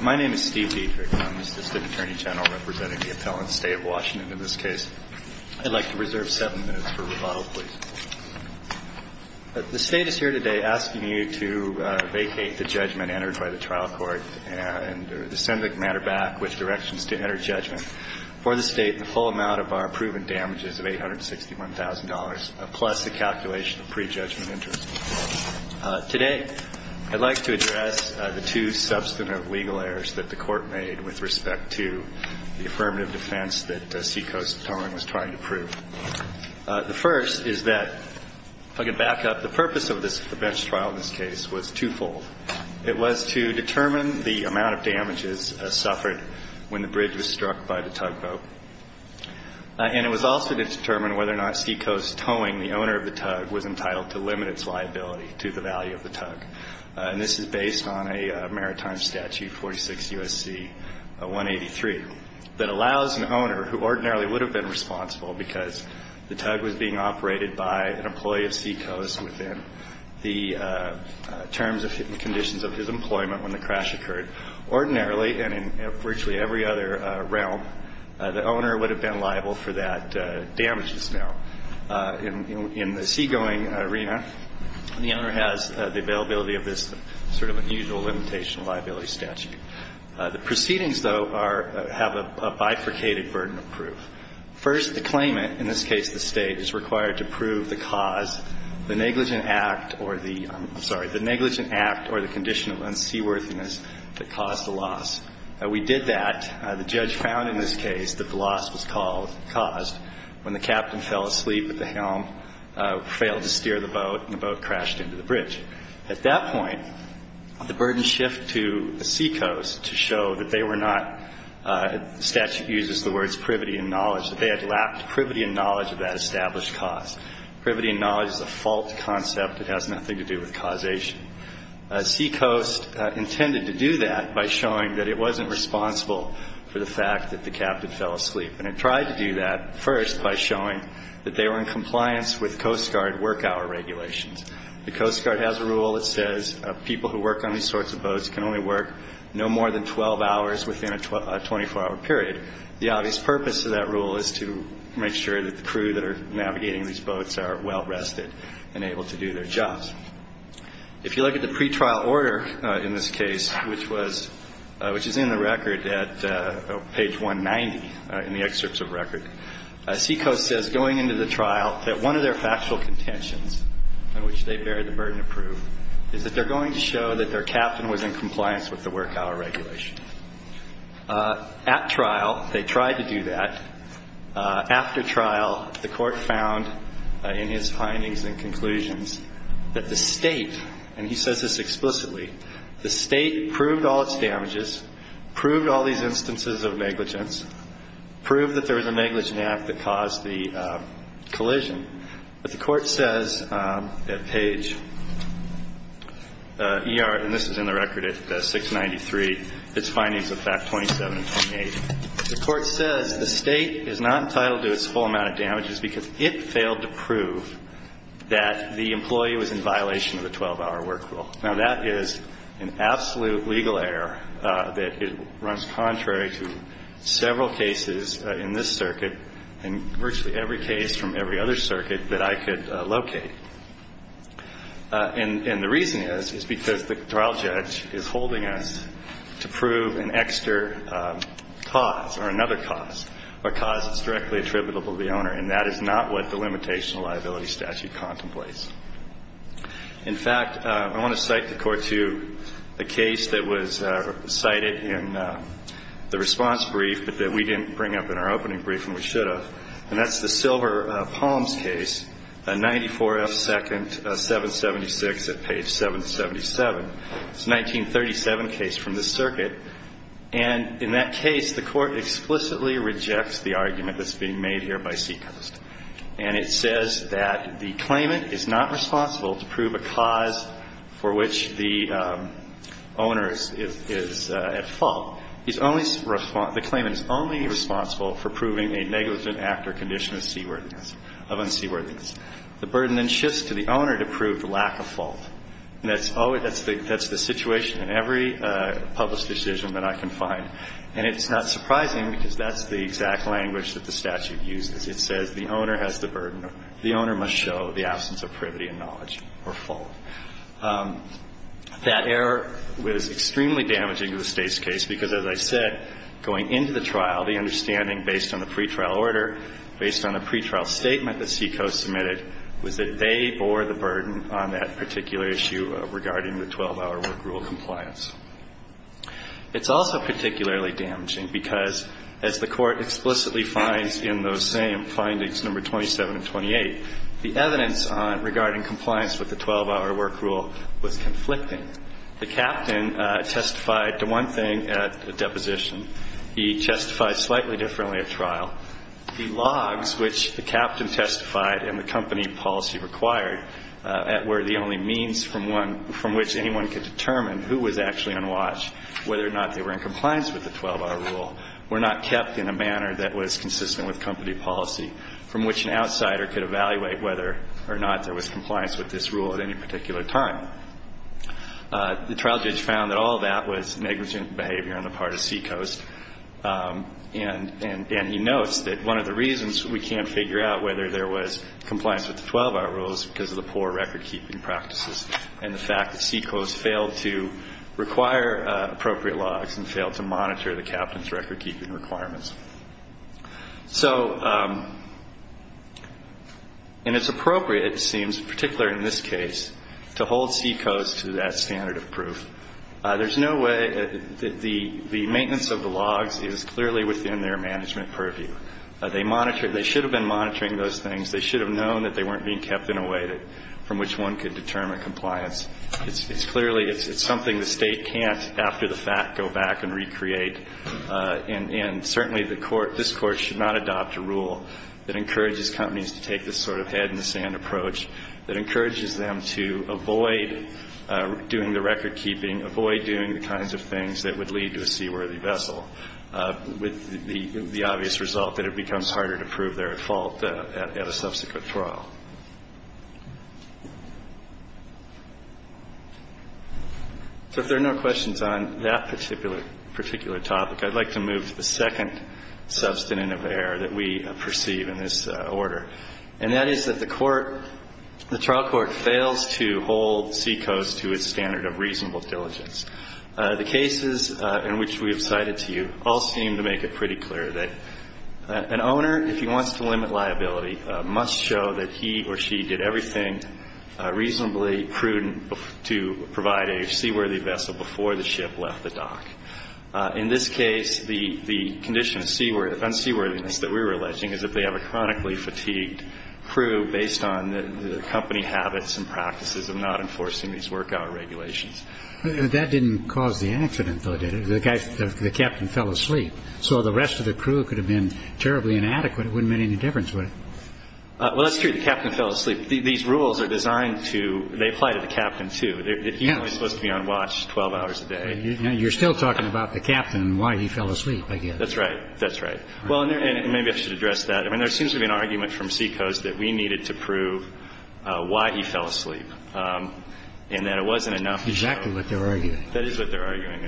My name is Steve Dietrich. I'm the Assistant Attorney General representing the Appellant State of Washington in this case. I'd like to reserve seven minutes for rebuttal, please. The State is here today asking you to vacate the judgment entered by the trial court and send the matter back with directions to enter judgment for the State the full amount of our proven damages of $861,000, plus the calculation of pre-judgment interest. Today, I'd like to address the two substantive legal errors that the court made with respect to the affirmative defense that Sea Coast Towing was trying to prove. The first is that, if I could back up, the purpose of the bench trial in this case was twofold. It was to determine the amount of damages suffered when the bridge was struck by the tugboat, and it was also to determine whether or not Sea Coast Towing, the owner of the tug, was entitled to limit its liability to the value of the tug. And this is based on a maritime statute, 46 U.S.C. 183, that allows an owner who ordinarily would have been responsible because the tug was being operated by an employee of Sea Coast within the terms and conditions of his employment when the crash occurred. Ordinarily, and in virtually every other realm, the owner would have been liable for that damages now. In the seagoing arena, the owner has the availability of this sort of unusual limitation of liability statute. The proceedings, though, are – have a bifurcated burden of proof. First, the claimant, in this case the State, is required to prove the cause, the negligent act or the – that caused the loss. We did that. The judge found in this case that the loss was caused when the captain fell asleep at the helm, failed to steer the boat, and the boat crashed into the bridge. At that point, the burden shifted to Sea Coast to show that they were not – the statute uses the words privity and knowledge, that they had lacked privity and knowledge of that established cause. Privity and knowledge is a fault concept. It has nothing to do with causation. Sea Coast intended to do that by showing that it wasn't responsible for the fact that the captain fell asleep. And it tried to do that first by showing that they were in compliance with Coast Guard work hour regulations. The Coast Guard has a rule that says people who work on these sorts of boats can only work no more than 12 hours within a 24-hour period. The obvious purpose of that rule is to make sure that the crew that are navigating these boats are well rested and able to do their jobs. If you look at the pretrial order in this case, which was – which is in the record at page 190 in the excerpts of record, Sea Coast says going into the trial that one of their factual contentions on which they bear the burden of proof is that they're going to show that their captain was in compliance with the work hour regulation. At trial, they tried to do that. After trial, the Court found in his findings and conclusions that the State – and he says this explicitly – the State proved all its damages, proved all these instances of negligence, proved that there was a negligent act that caused the collision. But the Court says at page ER – and this is in the record at 693 – its findings of fact 27 and 28. The Court says the State is not entitled to its whole amount of damages because it failed to prove that the employee was in violation of the 12-hour work rule. Now, that is an absolute legal error that runs contrary to several cases in this circuit and virtually every case from every other circuit that I could locate. And the reason is, is because the trial judge is holding us to prove an extra cause or another cause or cause that's directly attributable to the owner, and that is not what the Limitation of Liability Statute contemplates. In fact, I want to cite the Court to a case that was cited in the response brief but that we didn't bring up in our opening brief and we should have, and that's the Silver Palms case, 94F second 776 at page 777. It's a 1937 case from this circuit. And in that case, the Court explicitly rejects the argument that's being made here by Seacoast. And it says that the claimant is not responsible to prove a cause for which the owner is at fault. The claimant is only responsible for proving a negligent act or condition of seaworthiness, of unseaworthiness. The burden then shifts to the owner to prove the lack of fault. And that's the situation in every published decision that I can find. And it's not surprising because that's the exact language that the statute uses. It says the owner has the burden. The owner must show the absence of privity and knowledge or fault. That error was extremely damaging to the State's case because, as I said, going into the trial, the understanding based on the pretrial order, based on the pretrial statement that Seacoast submitted, was that they bore the burden on that particular issue regarding the 12-hour work rule compliance. It's also particularly damaging because, as the Court explicitly finds in those same findings, number 27 and 28, the evidence regarding compliance with the 12-hour work rule was conflicting. The captain testified to one thing at the deposition. He testified slightly differently at trial. The logs, which the captain testified and the company policy required, were the only means from which anyone could determine who was actually on watch, whether or not they were in compliance with the 12-hour rule, were not kept in a manner that was consistent with company policy, from which an outsider could evaluate whether or not there was compliance with this rule at any particular time. The trial judge found that all that was negligent behavior on the part of Seacoast, and he notes that one of the reasons we can't figure out whether there was compliance with the 12-hour rule is because of the poor record-keeping practices and the fact that Seacoast failed to require appropriate logs and failed to monitor the captain's record-keeping requirements. So, and it's appropriate, it seems, particularly in this case, to hold Seacoast to that standard of proof. There's no way that the maintenance of the logs is clearly within their management purview. They should have been monitoring those things. They should have known that they weren't being kept in a way from which one could determine compliance. It's clearly, it's something the State can't, after the fact, go back and recreate. And certainly the court, this Court should not adopt a rule that encourages companies to take this sort of head-in-the-sand approach, that encourages them to avoid doing the record-keeping, avoid doing the kinds of things that would lead to a seaworthy vessel, with the obvious result that it becomes harder to prove their fault at a subsequent trial. So if there are no questions on that particular topic, I'd like to move to the second substantive error that we perceive in this order, and that is that the trial court fails to hold Seacoast to its standard of reasonable diligence. The cases in which we have cited to you all seem to make it pretty clear that an owner, if he wants to limit liability, must show that he or she did everything reasonably prudent to provide a seaworthy vessel before the ship left the dock. In this case, the condition of unseaworthiness that we're alleging is that they have a chronically fatigued crew based on the company habits and practices of not enforcing these work-hour regulations. But that didn't cause the accident, though, did it? The captain fell asleep. So the rest of the crew could have been terribly inadequate. It wouldn't have made any difference, would it? Well, that's true. The captain fell asleep. These rules are designed to – they apply to the captain, too. He's only supposed to be on watch 12 hours a day. You're still talking about the captain and why he fell asleep, I guess. That's right. That's right. Well, and maybe I should address that. I mean, there seems to be an argument from Seacoast that we needed to prove why he fell asleep and that it wasn't enough. Exactly what they're arguing. That is what they're arguing.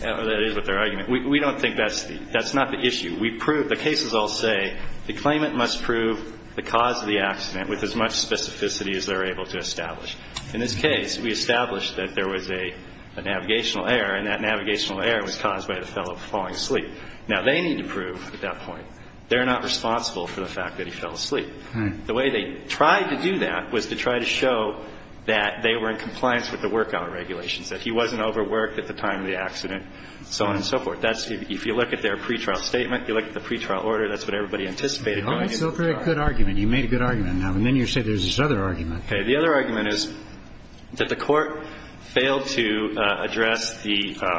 That is what they're arguing. We don't think that's the – that's not the issue. We proved – the cases all say the claimant must prove the cause of the accident with as much specificity as they're able to establish. In this case, we established that there was a navigational error, and that navigational error was caused by the fellow falling asleep. Now, they need to prove at that point they're not responsible for the fact that he fell asleep. The way they tried to do that was to try to show that they were in compliance with the workout regulations, that he wasn't overworked at the time of the accident, so on and so forth. That's – if you look at their pretrial statement, if you look at the pretrial order, that's what everybody anticipated going into the trial. That's a very good argument. You made a good argument. And then you say there's this other argument. Okay. The other argument is that the court failed to address the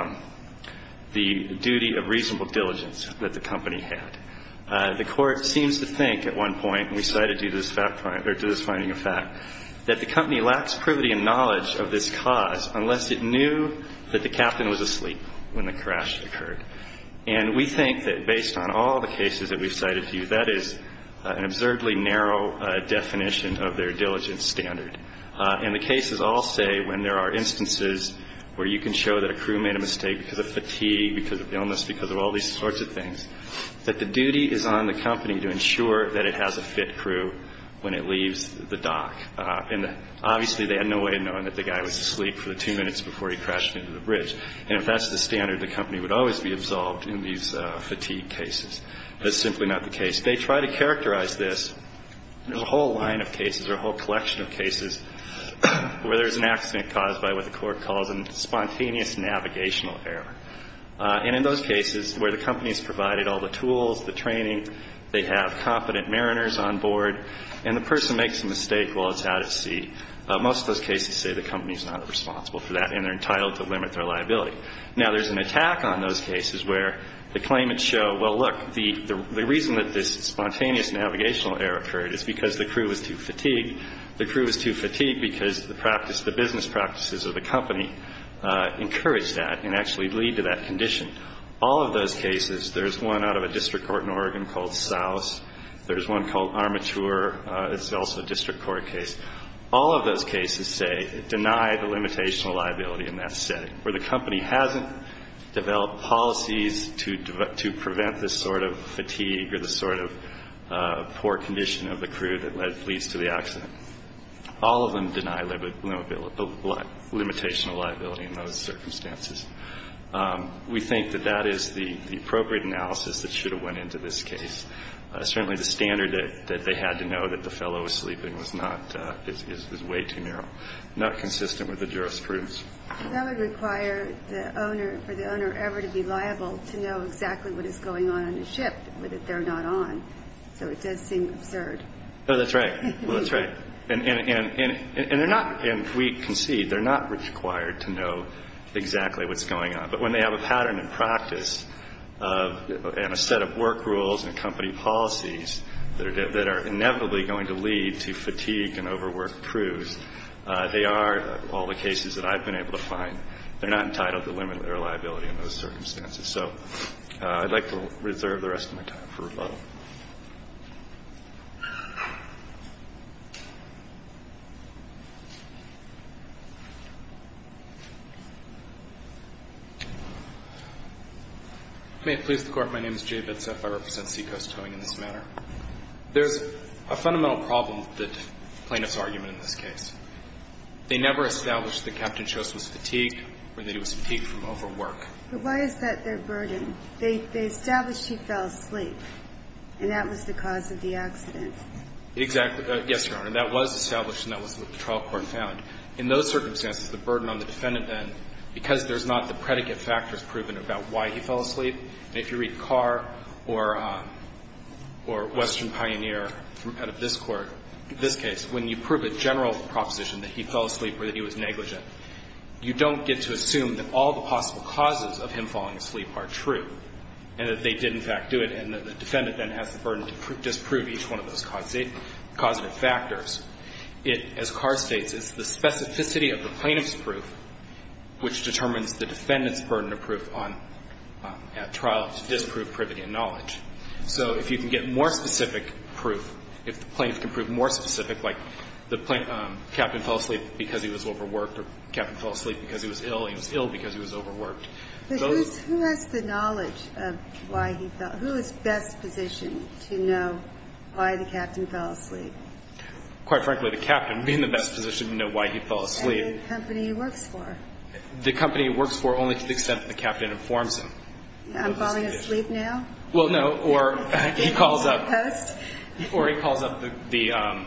duty of reasonable diligence that the company had. The court seems to think at one point – and we cited you to this finding of fact – that the company lacks privity and knowledge of this cause unless it knew that the captain was asleep when the crash occurred. And we think that based on all the cases that we've cited to you, that is an absurdly narrow definition of their diligence standard. And the cases all say when there are instances where you can show that a crew made a mistake because of fatigue, because of illness, because of all these sorts of things, that the duty is on the company to ensure that it has a fit crew when it leaves the dock. And obviously they had no way of knowing that the guy was asleep for the two minutes before he crashed into the bridge. And if that's the standard, the company would always be absolved in these fatigue cases. That's simply not the case. They try to characterize this – there's a whole line of cases or a whole collection of cases where there's an accident caused by what the court calls a spontaneous navigational error. And in those cases where the company's provided all the tools, the training, they have competent mariners on board, and the person makes a mistake while it's out at sea, most of those cases say the company's not responsible for that and they're entitled to limit their liability. Now, there's an attack on those cases where the claimants show, well, look, the reason that this spontaneous navigational error occurred is because the crew was too fatigued. The crew was too fatigued because the business practices of the company encouraged that and actually lead to that condition. All of those cases – there's one out of a district court in Oregon called Souse. There's one called Armature. It's also a district court case. All of those cases say – deny the limitational liability in that setting, where the company hasn't developed policies to prevent this sort of fatigue or this sort of poor condition of the crew that leads to the accident. All of them deny limitational liability in those circumstances. We think that that is the appropriate analysis that should have went into this case. Certainly the standard that they had to know that the fellow was sleeping was not – is way too narrow, not consistent with the jurisprudence. That would require for the owner ever to be liable to know exactly what is going on in the ship that they're not on, so it does seem absurd. Oh, that's right. Well, that's right. And they're not – and we concede they're not required to know exactly what's going on. But when they have a pattern in practice and a set of work rules and company policies that are inevitably going to lead to fatigue and overworked crews, they are all the cases that I've been able to find. They're not entitled to limit their liability in those circumstances. So I'd like to reserve the rest of my time for rebuttal. May it please the Court. My name is Jay Betzeff. I represent Seacoast Towing in this matter. There's a fundamental problem with the plaintiff's argument in this case. They never established that Captain Chost was fatigued or that he was fatigued from overwork. But why is that their burden? They established he fell asleep, and that was the cause of the accident. Exactly. Yes, Your Honor. That was established, and that was what the trial court found. In those circumstances, the burden on the defendant then, because there's not the predicate factors proven about why he fell asleep, and if you read Carr or Western Pioneer out of this court, this case, when you prove a general proposition that he fell asleep or that he was negligent, you don't get to assume that all the possible causes of him falling asleep are true and that they did, in fact, do it. And the defendant then has the burden to disprove each one of those causative factors. It, as Carr states, is the specificity of the plaintiff's proof which determines the defendant's burden of proof at trial to disprove privity and knowledge. So if you can get more specific proof, if the plaintiff can prove more specific, like the captain fell asleep because he was overworked or the captain fell asleep because he was ill and he was ill because he was overworked. But who has the knowledge of why he fell? Who is best positioned to know why the captain fell asleep? Quite frankly, the captain would be in the best position to know why he fell asleep. And the company he works for. The company he works for only to the extent that the captain informs him. I'm falling asleep now? Well, no. Or he calls up the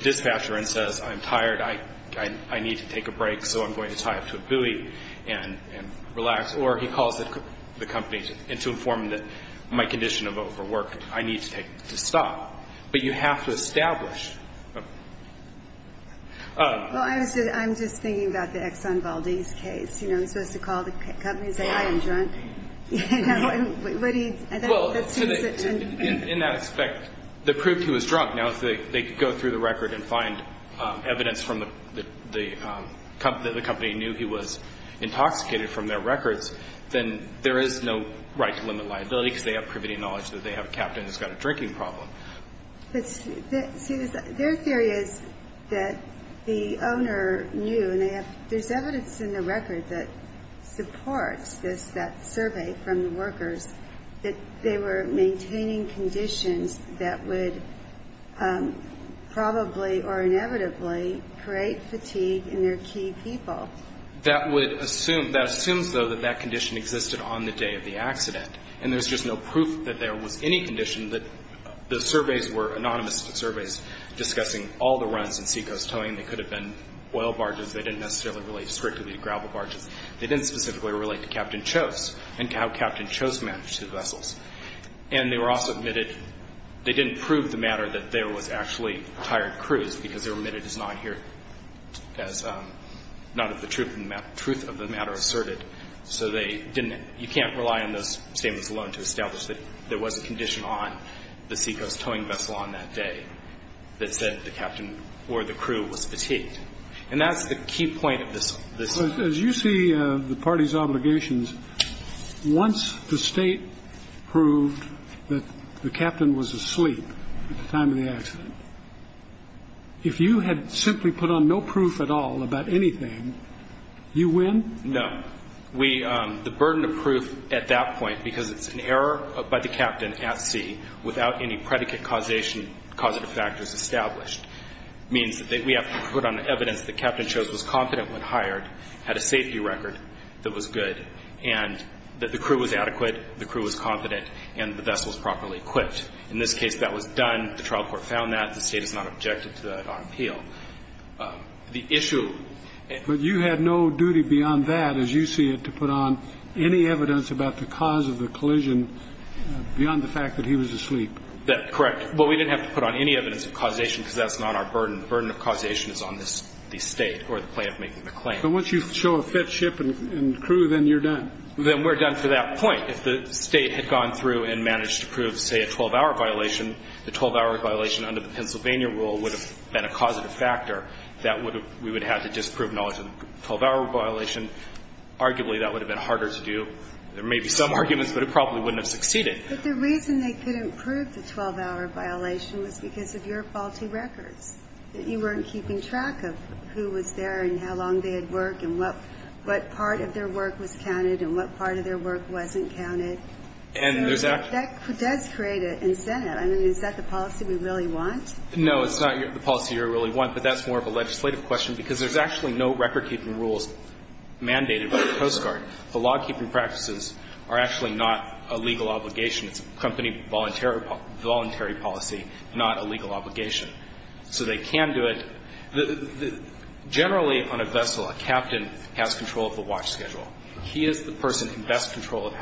dispatcher and says, I'm tired. I need to take a break, so I'm going to tie up to a buoy and relax. Or he calls the company to inform them that my condition of overwork, I need to stop. But you have to establish. Well, I'm just thinking about the Exxon Valdez case. You know, I'm supposed to call the company and say, I am drunk. Well, in that respect, they proved he was drunk. Now, if they could go through the record and find evidence from the company that the company knew he was intoxicated from their records, then there is no right to limit liability because they have privity knowledge that they have a captain who's got a drinking problem. Their theory is that the owner knew. There's evidence in the record that supports that survey from the workers that they were maintaining conditions that would probably or inevitably create fatigue in their key people. That assumes, though, that that condition existed on the day of the accident, and there's just no proof that there was any condition that the surveys were anonymous surveys discussing all the runs and seacoast towing. They could have been oil barges. They didn't necessarily relate strictly to gravel barges. They didn't specifically relate to Captain Chose and how Captain Chose managed his vessels. And they were also admitted they didn't prove the matter that there was actually tired crews because they were admitted as not of the truth of the matter asserted. So you can't rely on those statements alone to establish that there was a condition on the seacoast towing vessel on that day that said the captain or the crew was fatigued. And that's the key point of this. As you see the party's obligations, once the state proved that the captain was asleep at the time of the accident, if you had simply put on no proof at all about anything, you win? No. The burden of proof at that point, because it's an error by the captain at sea, without any predicate causation, causative factors established, means that we have to put on evidence that Captain Chose was confident when hired, had a safety record that was good, and that the crew was adequate, the crew was confident, and the vessel was properly equipped. In this case, that was done. The trial court found that. The State has not objected to that on appeal. The issue. But you had no duty beyond that, as you see it, to put on any evidence about the cause of the collision beyond the fact that he was asleep. That's correct. But we didn't have to put on any evidence of causation because that's not our burden. The burden of causation is on the State or the plaintiff making the claim. But once you show a fit ship and crew, then you're done. Then we're done for that point. If the State had gone through and managed to prove, say, a 12-hour violation, the 12-hour violation under the Pennsylvania rule would have been a causative factor that we would have had to disprove knowledge of the 12-hour violation. Arguably, that would have been harder to do. There may be some arguments, but it probably wouldn't have succeeded. But the reason they couldn't prove the 12-hour violation was because of your faulty records, that you weren't keeping track of who was there and how long they had worked and what part of their work was counted and what part of their work wasn't counted. And there's actually. That does create an incentive. I mean, is that the policy we really want? No, it's not the policy you really want. But that's more of a legislative question because there's actually no record-keeping rules mandated by the Coast Guard. The law-keeping practices are actually not a legal obligation. It's a company voluntary policy, not a legal obligation. So they can do it. Generally, on a vessel, a captain has control of the watch schedule. He is the person who has control of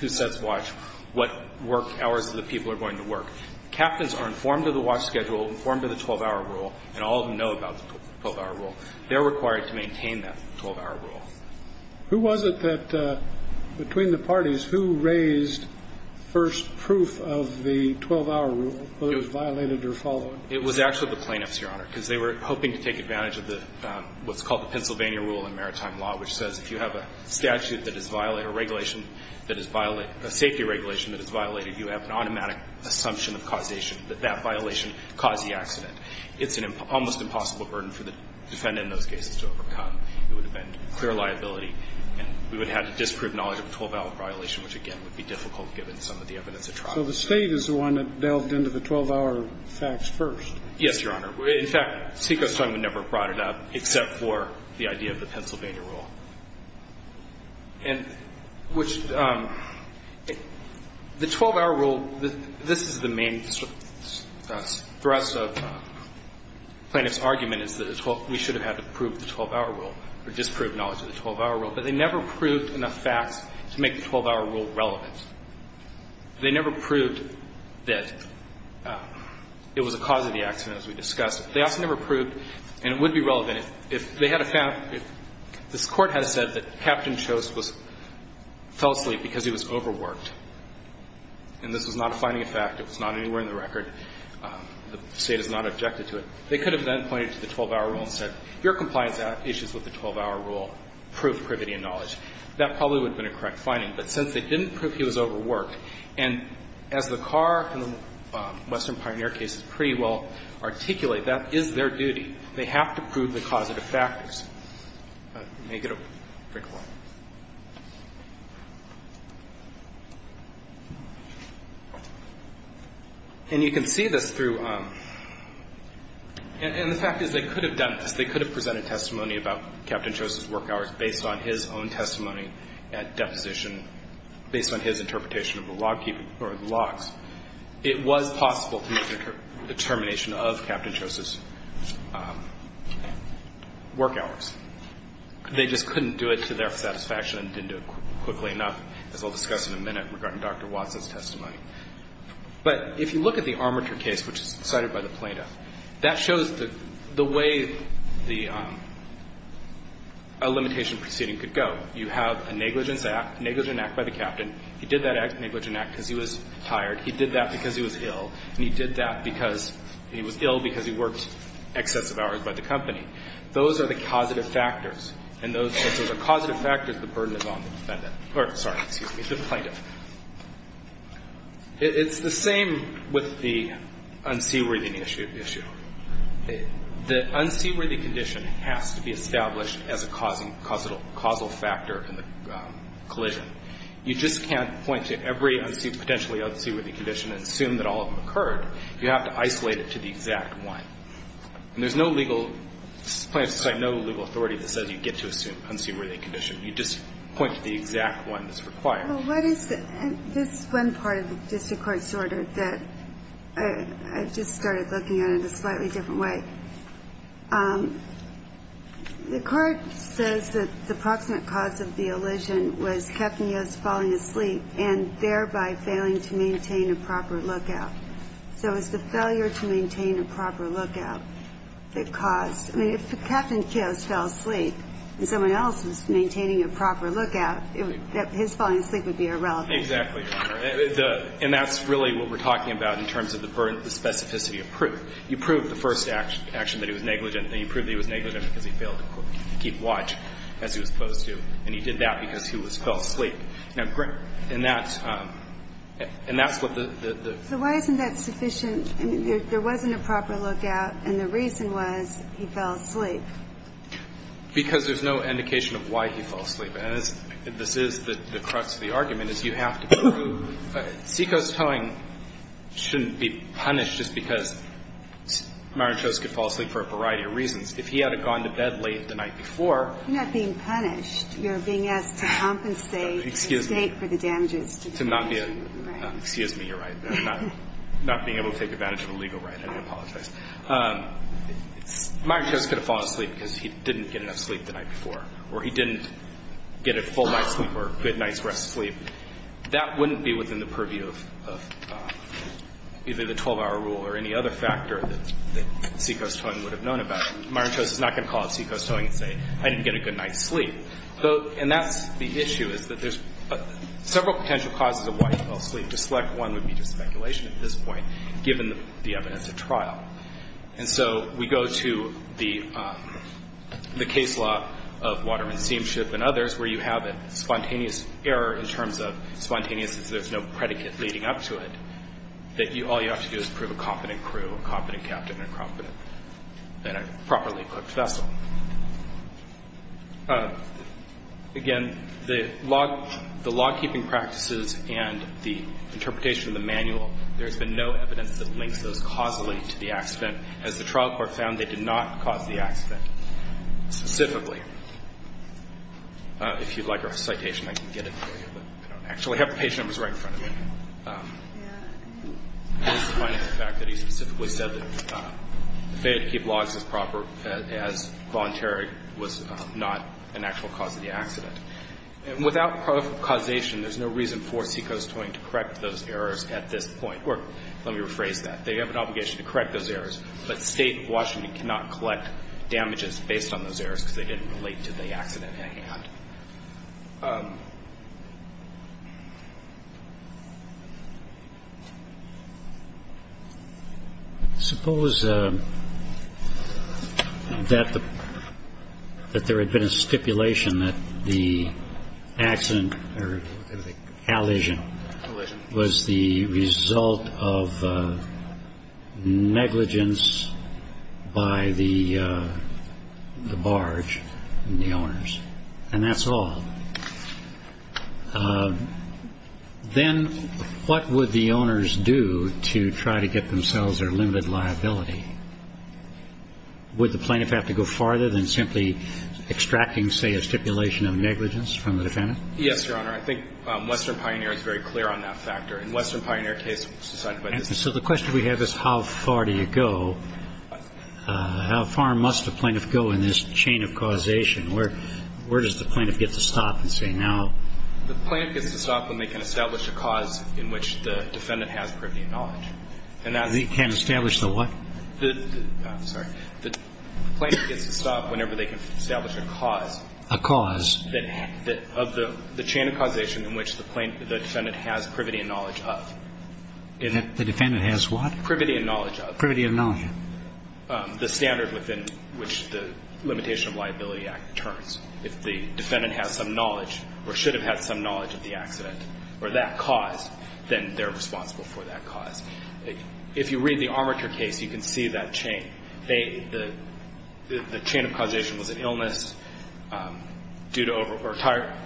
who sets watch, what work hours of the people are going to work. Captains are informed of the watch schedule, informed of the 12-hour rule, and all of them know about the 12-hour rule. They're required to maintain that 12-hour rule. Who was it that, between the parties, who raised first proof of the 12-hour rule, whether it was violated or followed? It was actually the plaintiffs, Your Honor, because they were hoping to take advantage of what's called the Pennsylvania rule in maritime law, which says if you have a statute that is violated, a regulation that is violated, a safety regulation that is violated, you have an automatic assumption of causation that that violation caused the accident. It's an almost impossible burden for the defendant in those cases to overcome. It would have been clear liability, and we would have had to disprove knowledge of a 12-hour violation, which, again, would be difficult given some of the evidence at trial. So the State is the one that delved into the 12-hour facts first? Yes, Your Honor. In fact, Seacoast Time would never have brought it up except for the idea of the Pennsylvania rule. And which the 12-hour rule, this is the main stress of the plaintiff's argument is that we should have had to prove the 12-hour rule or disprove knowledge of the 12-hour rule. But they never proved enough facts to make the 12-hour rule relevant. They never proved that it was a cause of the accident, as we discussed. They also never proved, and it would be relevant if they had a fact, if this Court had said that Captain Chost fell asleep because he was overworked, and this was not a finding of fact. It was not anywhere in the record. The State has not objected to it. They could have then pointed to the 12-hour rule and said, your compliance issues with the 12-hour rule prove privity and knowledge. That probably would have been a correct finding. But since they didn't prove he was overworked, and as the Carr and the Western Pioneer cases pretty well articulate, that is their duty. They have to prove the causative factors. And you can see this through, and the fact is they could have done this. They could have presented testimony about Captain Chost's work hours based on his own testimony at deposition, based on his interpretation of the logs. It was possible to make a determination of Captain Chost's work hours. They just couldn't do it to their satisfaction and didn't do it quickly enough, as I'll discuss in a minute, regarding Dr. Watson's testimony. But if you look at the armature case, which is cited by the plaintiff, that shows the way a limitation proceeding could go. You have a negligence act, a negligence act by the Captain. He did that negligence act because he was tired. He did that because he was ill. And he did that because he was ill because he worked excessive hours by the company. Those are the causative factors. And since those are causative factors, the burden is on the defendant. Or, sorry, excuse me, the plaintiff. It's the same with the unseaworthy issue. The unseaworthy condition has to be established as a causal factor in the collision. You just can't point to every potentially unseaworthy condition and assume that all of them occurred. You have to isolate it to the exact one. And there's no legal – this is the plaintiff's claim – no legal authority that says you get to assume unseaworthy condition. You just point to the exact one that's required. Well, what is the – this is one part of the district court's order that I just started looking at in a slightly different way. The court says that the proximate cause of the elision was Captain Yost falling asleep and thereby failing to maintain a proper lookout. So is the failure to maintain a proper lookout the cause? I mean, if Captain Yost fell asleep and someone else was maintaining a proper lookout, his falling asleep would be irrelevant. Exactly, Your Honor. And that's really what we're talking about in terms of the specificity of proof. You prove the first action that he was negligent, and you prove that he was negligent because he failed to keep watch as he was supposed to. And he did that because he fell asleep. And that's what the – So why isn't that sufficient? I mean, there wasn't a proper lookout, and the reason was he fell asleep. Because there's no indication of why he fell asleep. And this is the crux of the argument, is you have to prove – Seiko's towing shouldn't be punished just because Mario Chos could fall asleep for a variety of reasons. If he had gone to bed late the night before – You're not being punished. You're being asked to compensate – Excuse me. For the damages to the damage to your right. Excuse me. You're right. I'm not being able to take advantage of a legal right. I apologize. Mario Chos could have fallen asleep because he didn't get enough sleep the night before, or he didn't get a full night's sleep or a good night's rest sleep. That wouldn't be within the purview of either the 12-hour rule or any other factor that Seiko's towing would have known about. Mario Chos is not going to call up Seiko's towing and say, I didn't get a good night's sleep. And that's the issue, is that there's several potential causes of why he fell asleep. To select one would be just speculation at this point, given the evidence of trial. And so we go to the case law of Waterman Steamship and others, where you have a spontaneous error in terms of spontaneous, since there's no predicate leading up to it, that all you have to do is prove a competent crew, a competent captain, and a properly equipped vessel. Again, the lawkeeping practices and the interpretation of the manual, there's been no evidence that links those causally to the accident. As the trial court found, they did not cause the accident specifically. If you'd like a citation, I can get it for you, but I don't actually have the page numbers right in front of me. This is defining the fact that he specifically said that the failure to keep logs as proper as voluntary was not an actual cause of the accident. Without proper causation, there's no reason for Seiko's towing to correct those errors at this point. Or let me rephrase that. They have an obligation to correct those errors, but State of Washington cannot collect damages based on those errors because they didn't relate to the accident at hand. Suppose that there had been a stipulation that the accident or the collision was the result of negligence by the barge and the owners. And that's all. Then what would the owners do to try to get themselves their limited liability? Would the plaintiff have to go farther than simply extracting, say, Yes, Your Honor. I think Western Pioneer is very clear on that factor. In Western Pioneer case, it's decided by this case. And so the question we have is how far do you go? How far must a plaintiff go in this chain of causation? Where does the plaintiff get to stop and say now? The plaintiff gets to stop when they can establish a cause in which the defendant has privy knowledge. And that's the... They can establish the what? Sorry. The plaintiff gets to stop whenever they can establish a cause. A cause. Of the chain of causation in which the defendant has privity and knowledge of. The defendant has what? Privity and knowledge of. Privity and knowledge of. The standard within which the Limitation of Liability Act returns. If the defendant has some knowledge or should have had some knowledge of the accident or that cause, then they're responsible for that cause. If you read the armature case, you can see that chain. The chain of causation was an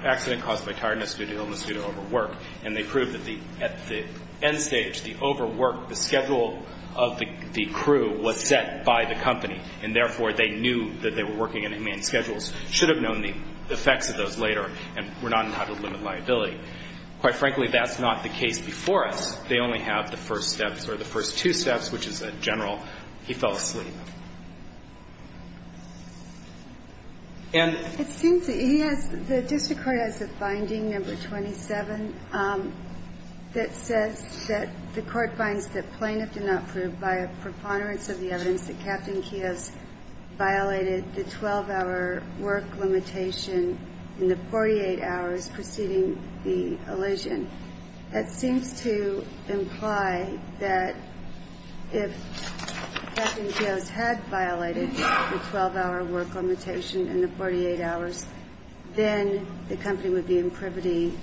accident caused by tiredness due to illness due to overwork. And they proved that at the end stage, the overwork, the schedule of the crew was set by the company. And therefore, they knew that they were working in inhumane schedules, should have known the effects of those later, and were not allowed to limit liability. Quite frankly, that's not the case before us. They only have the first steps or the first two steps, which is a general. He fell asleep. And. It seems that he has, the district court has a finding, number 27, that says that the court finds that plaintiff did not prove by a preponderance of the evidence that Captain Kiosk violated the 12-hour work limitation in the 48 hours preceding the elision. That seems to imply that if Captain Kiosk had violated the 12-hour work limitation in the 48 hours, then the company would be in privity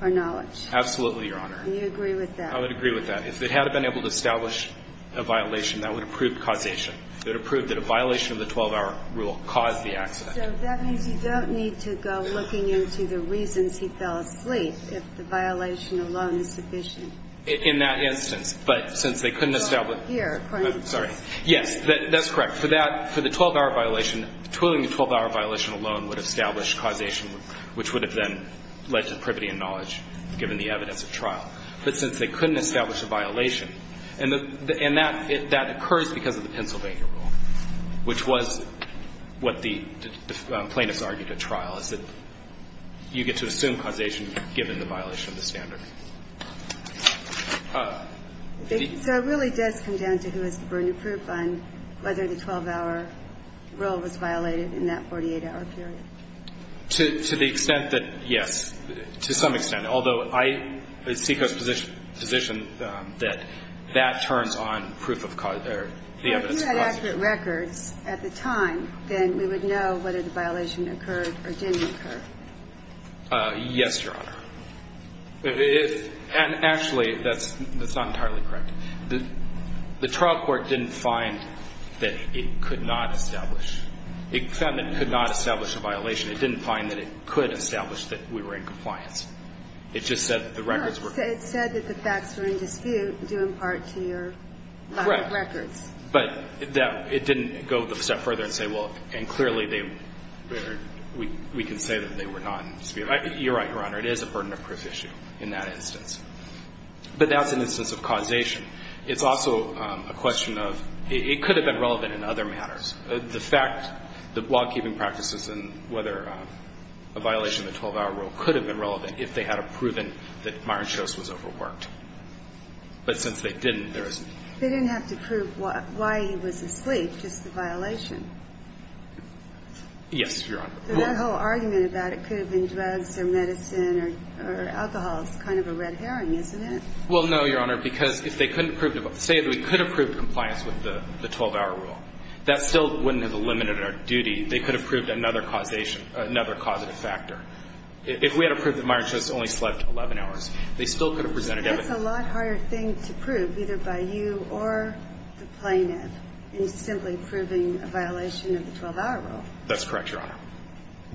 or knowledge. Absolutely, Your Honor. And you agree with that? I would agree with that. If they had been able to establish a violation, that would have proved causation. It would have proved that a violation of the 12-hour rule caused the accident. So that means you don't need to go looking into the reasons he fell asleep if the violation alone is sufficient. In that instance. But since they couldn't establish. Here. Sorry. Yes, that's correct. For that, for the 12-hour violation, twiddling the 12-hour violation alone would have established causation, which would have then led to privity and knowledge given the evidence of trial. But since they couldn't establish a violation, and that occurs because of the Pennsylvania 12-hour rule, which was what the plaintiffs argued at trial, is that you get to assume causation given the violation of the standard. So it really does come down to who has the burden of proof on whether the 12-hour rule was violated in that 48-hour period? To the extent that, yes. To some extent. Although I, as SECO's position, that that turns on proof of the evidence of causation. If you had accurate records at the time, then we would know whether the violation occurred or didn't occur. Yes, Your Honor. And actually, that's not entirely correct. The trial court didn't find that it could not establish. It found it could not establish a violation. It didn't find that it could establish that we were in compliance. It just said that the records were. It said that the facts were in dispute due in part to your lack of records. But that, it didn't go a step further and say, well, and clearly they, we can say that they were not in dispute. You're right, Your Honor. It is a burden of proof issue in that instance. But that's an instance of causation. It's also a question of, it could have been relevant in other matters. The fact, the law-keeping practices and whether a violation of the 12-hour rule could have been relevant if they had proven that Myron Shost was overworked. But since they didn't, there isn't. They didn't have to prove why he was asleep, just the violation. Yes, Your Honor. But that whole argument about it could have been drugs or medicine or alcohol is kind of a red herring, isn't it? Well, no, Your Honor, because if they couldn't prove, say that we could have proved compliance with the 12-hour rule, that still wouldn't have eliminated our duty. They could have proved another causation, another causative factor. If we had approved that Myron Shost only slept 11 hours, they still could have presented evidence. But that's a lot harder thing to prove, either by you or the plaintiff, in simply proving a violation of the 12-hour rule. That's correct, Your Honor.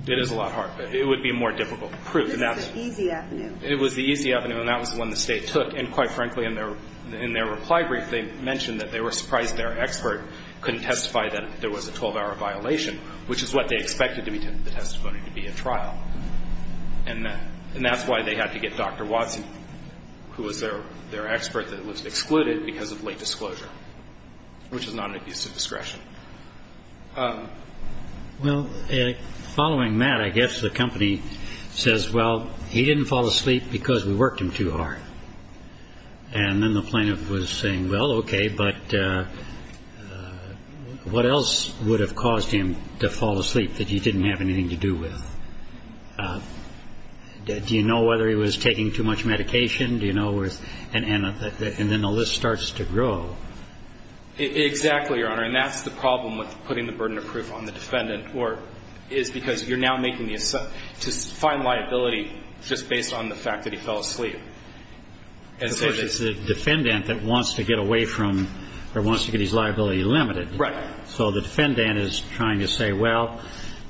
It is a lot harder. It would be more difficult to prove. This is the easy avenue. It was the easy avenue, and that was the one the State took. And quite frankly, in their reply brief, they mentioned that they were surprised their expert couldn't testify that there was a 12-hour violation, which is what they expected the testimony to be at trial. And that's why they had to get Dr. Watson, who was their expert, that was excluded because of late disclosure, which is not an abuse of discretion. Well, following that, I guess the company says, well, he didn't fall asleep because we worked him too hard. And then the plaintiff was saying, well, okay, but what else would have caused him to fall asleep that you didn't have anything to do with? Do you know whether he was taking too much medication? Do you know? And then the list starts to grow. Exactly, Your Honor. And that's the problem with putting the burden of proof on the defendant is because you're now making the assumption to find liability just based on the fact that he fell asleep. Of course, it's the defendant that wants to get away from or wants to get his liability limited. Right. So the defendant is trying to say, well,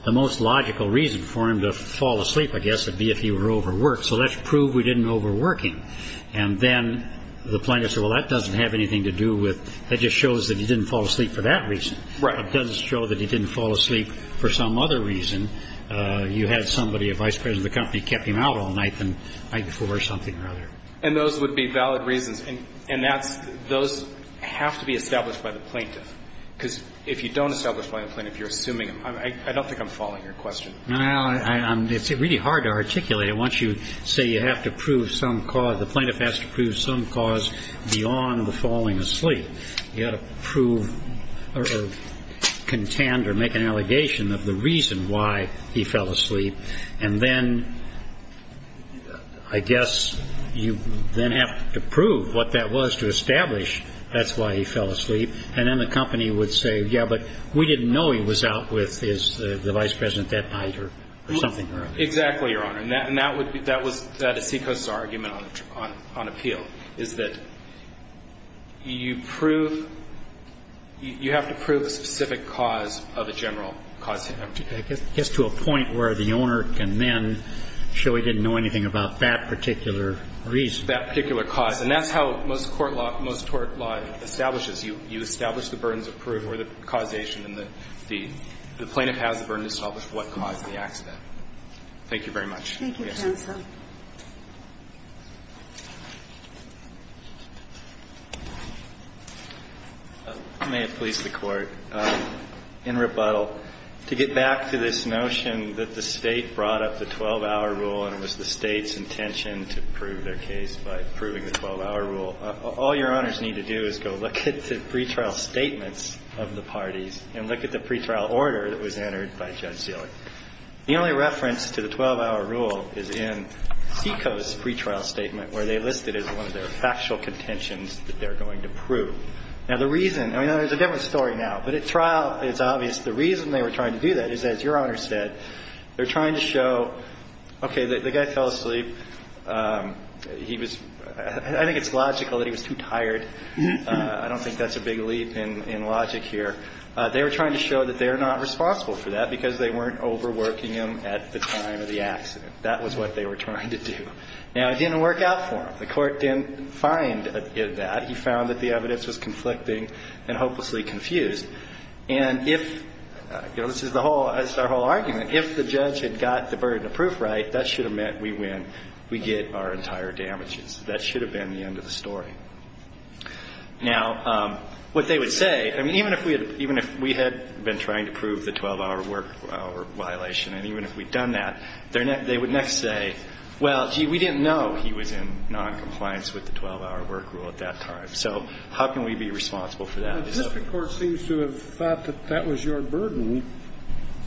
the most logical reason for him to fall asleep, I guess, would be if he were overworked. So let's prove we didn't overwork him. And then the plaintiff said, well, that doesn't have anything to do with that just shows that he didn't fall asleep for that reason. Right. It doesn't show that he didn't fall asleep for some other reason. You had somebody, a vice president of the company, kept him out all night, the night before or something or other. And those would be valid reasons. And that's those have to be established by the plaintiff. Because if you don't establish by the plaintiff, you're assuming him. I don't think I'm following your question. No. It's really hard to articulate it once you say you have to prove some cause. The plaintiff has to prove some cause beyond the falling asleep. You have to prove or contend or make an allegation of the reason why he fell asleep. And then I guess you then have to prove what that was to establish that's why he fell asleep. And then the company would say, yeah, but we didn't know he was out with the vice president that night or something or other. Exactly, Your Honor. And that would be the Seacoast's argument on appeal is that you prove you have to prove a specific cause of a general cause. I guess to a point where the owner can then show he didn't know anything about that particular reason. That particular cause. And that's how most court law establishes. You establish the burdens of proof or the causation and the plaintiff has the burden to establish what caused the accident. Thank you very much. Thank you, counsel. May it please the Court. In rebuttal, to get back to this notion that the State brought up the 12-hour rule and it was the State's intention to prove their case by proving the 12-hour rule, all Your Honors need to do is go look at the pretrial statements of the parties and look at the pretrial order that was entered by Judge Seelig. The only reference to the 12-hour rule is in Seacoast's pretrial statement where they list it as one of their factual contentions that they're going to prove. Now, the reason, I mean, there's a different story now. But at trial, it's obvious the reason they were trying to do that is, as Your Honor said, they're trying to show, okay, the guy fell asleep. He was – I think it's logical that he was too tired. I don't think that's a big leap in logic here. They were trying to show that they're not responsible for that because they weren't overworking him at the time of the accident. That was what they were trying to do. Now, it didn't work out for him. The Court didn't find that. He found that the evidence was conflicting and hopelessly confused. And if – this is the whole – this is our whole argument. If the judge had got the burden of proof right, that should have meant we win, we get our entire damages. That should have been the end of the story. Now, what they would say – I mean, even if we had been trying to prove the 12-hour work violation, and even if we'd done that, they would next say, well, gee, we didn't know he was in noncompliance with the 12-hour work rule at that time. So how can we be responsible for that? Your Honor, the district court seems to have thought that that was your burden,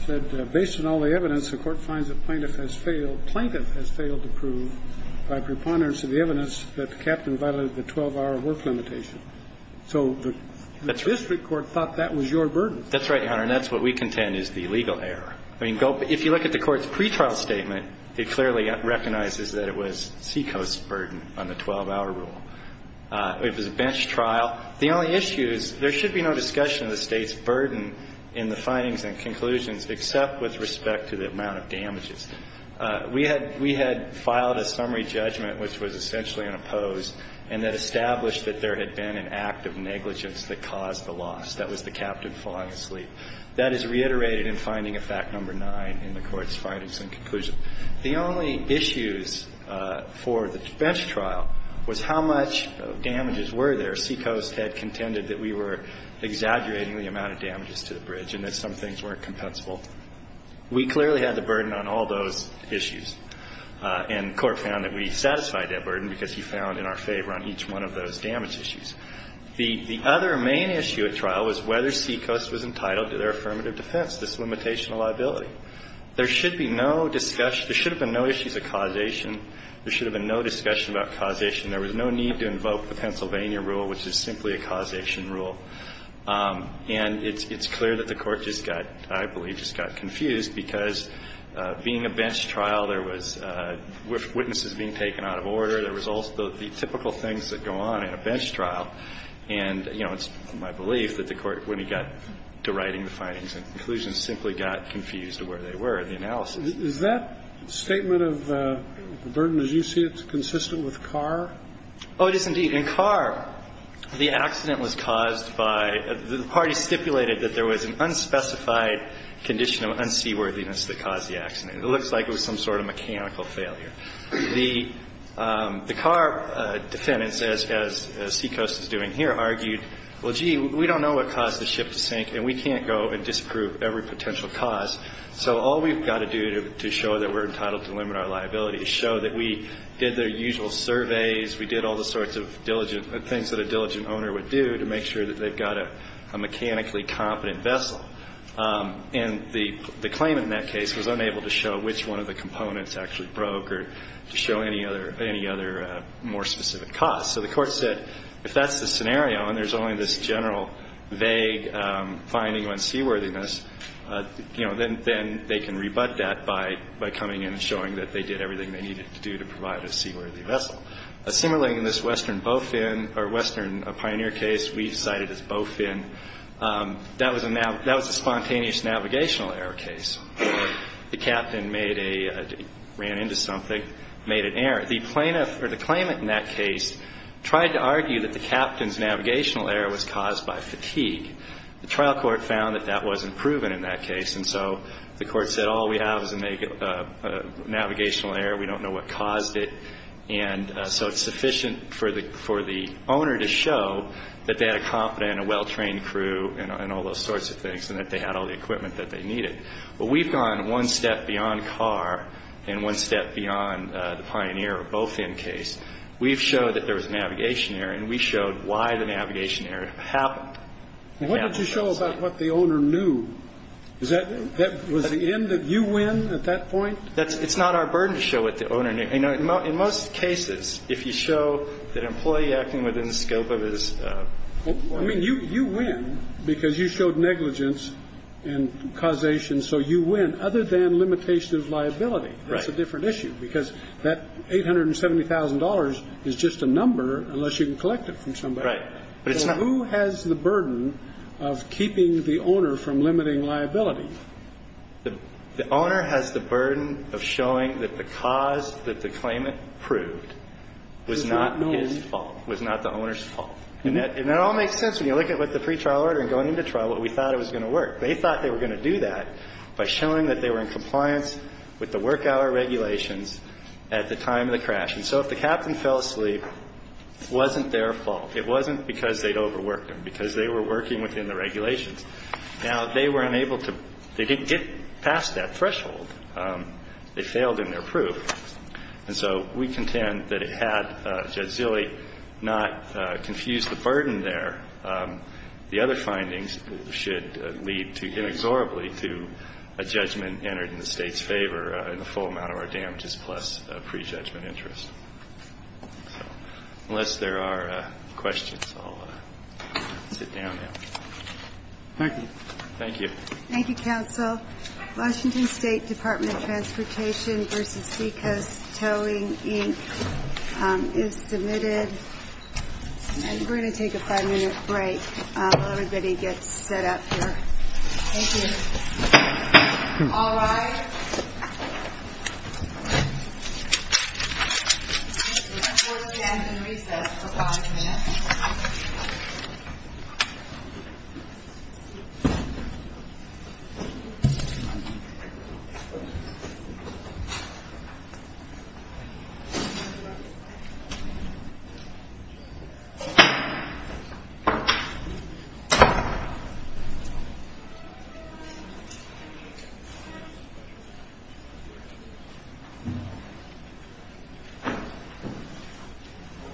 that based on all the evidence, the Court finds the plaintiff has failed – plaintiff has failed to prove by preponderance of the evidence that the captain violated the 12-hour work limitation. So the district court thought that was your burden. That's right, Your Honor, and that's what we contend is the legal error. I mean, if you look at the Court's pretrial statement, it clearly recognizes that it was Seacoast's burden on the 12-hour rule. It was a bench trial. Now, the only issue is there should be no discussion of the State's burden in the findings and conclusions except with respect to the amount of damages. We had – we had filed a summary judgment, which was essentially an opposed, and that established that there had been an act of negligence that caused the loss. That was the captain falling asleep. That is reiterated in finding of fact number nine in the Court's findings and conclusions. The only issues for the bench trial was how much damages were there. Seacoast had contended that we were exaggerating the amount of damages to the bridge and that some things weren't compensable. We clearly had the burden on all those issues, and the Court found that we satisfied that burden because he found in our favor on each one of those damage issues. The other main issue at trial was whether Seacoast was entitled to their affirmative defense, this limitation of liability. There should be no discussion – there should have been no issues of causation. There should have been no discussion about causation. There was no need to invoke the Pennsylvania rule, which is simply a causation rule. And it's clear that the Court just got – I believe just got confused because being a bench trial, there was witnesses being taken out of order. There was also the typical things that go on in a bench trial. And, you know, it's my belief that the Court, when it got to writing the findings and conclusions, simply got confused where they were in the analysis. Is that statement of the burden, as you see it, consistent with Carr? Oh, it is indeed. In Carr, the accident was caused by – the parties stipulated that there was an unspecified condition of unseaworthiness that caused the accident. It looks like it was some sort of mechanical failure. The Carr defendants, as Seacoast is doing here, argued, well, gee, we don't know what caused the ship to sink, and we can't go and disprove every potential cause. So all we've got to do to show that we're entitled to limit our liability is show that we did the usual surveys, we did all the sorts of diligent – things that a diligent owner would do to make sure that they've got a mechanically competent vessel. And the claimant in that case was unable to show which one of the components actually broke or to show any other more specific cause. So the court said, if that's the scenario and there's only this general vague finding on seaworthiness, then they can rebut that by coming in and showing that they did everything they needed to do to provide a seaworthy vessel. Similarly, in this Western Bowfin – or Western Pioneer case we've cited as Bowfin, that was a spontaneous navigational error case. The captain made a – ran into something, made an error. The plaintiff – or the claimant in that case tried to argue that the captain's navigational error was caused by fatigue. The trial court found that that wasn't proven in that case, and so the court said, all we have is a navigational error, we don't know what caused it. And so it's sufficient for the owner to show that they had a competent and well-trained crew and all those sorts of things, and that they had all the equipment that they needed. Well, we've gone one step beyond Carr and one step beyond the Pioneer or Bowfin case. We've showed that there was a navigation error, and we showed why the navigation error happened. What did you show about what the owner knew? Was the end that you win at that point? It's not our burden to show what the owner knew. In most cases, if you show that an employee acting within the scope of his – I mean, you win because you showed negligence and causation. So you win. Other than limitation of liability, that's a different issue, because that $870,000 is just a number unless you can collect it from somebody. Right. So who has the burden of keeping the owner from limiting liability? The owner has the burden of showing that the cause that the claimant proved was not his fault, was not the owner's fault. And that all makes sense when you look at what the pretrial order and going into trial, what we thought it was going to work. They thought they were going to do that by showing that they were in compliance with the work hour regulations at the time of the crash. And so if the captain fell asleep, it wasn't their fault. It wasn't because they'd overworked them, because they were working within the regulations. Now, they were unable to – they didn't get past that threshold. They failed in their proof. And so we contend that it had Judge Zilley not confused the burden there. The other findings should lead inexorably to a judgment entered in the State's favor in the full amount of our damages plus a prejudgment interest. So unless there are questions, I'll sit down now. Thank you. Thank you. Thank you, counsel. Washington State Department of Transportation v. Seacoast Towing Inc. is submitted. And we're going to take a five-minute break while everybody gets set up here. Thank you. All rise. This is a 4 p.m. recess for five minutes. Thank you.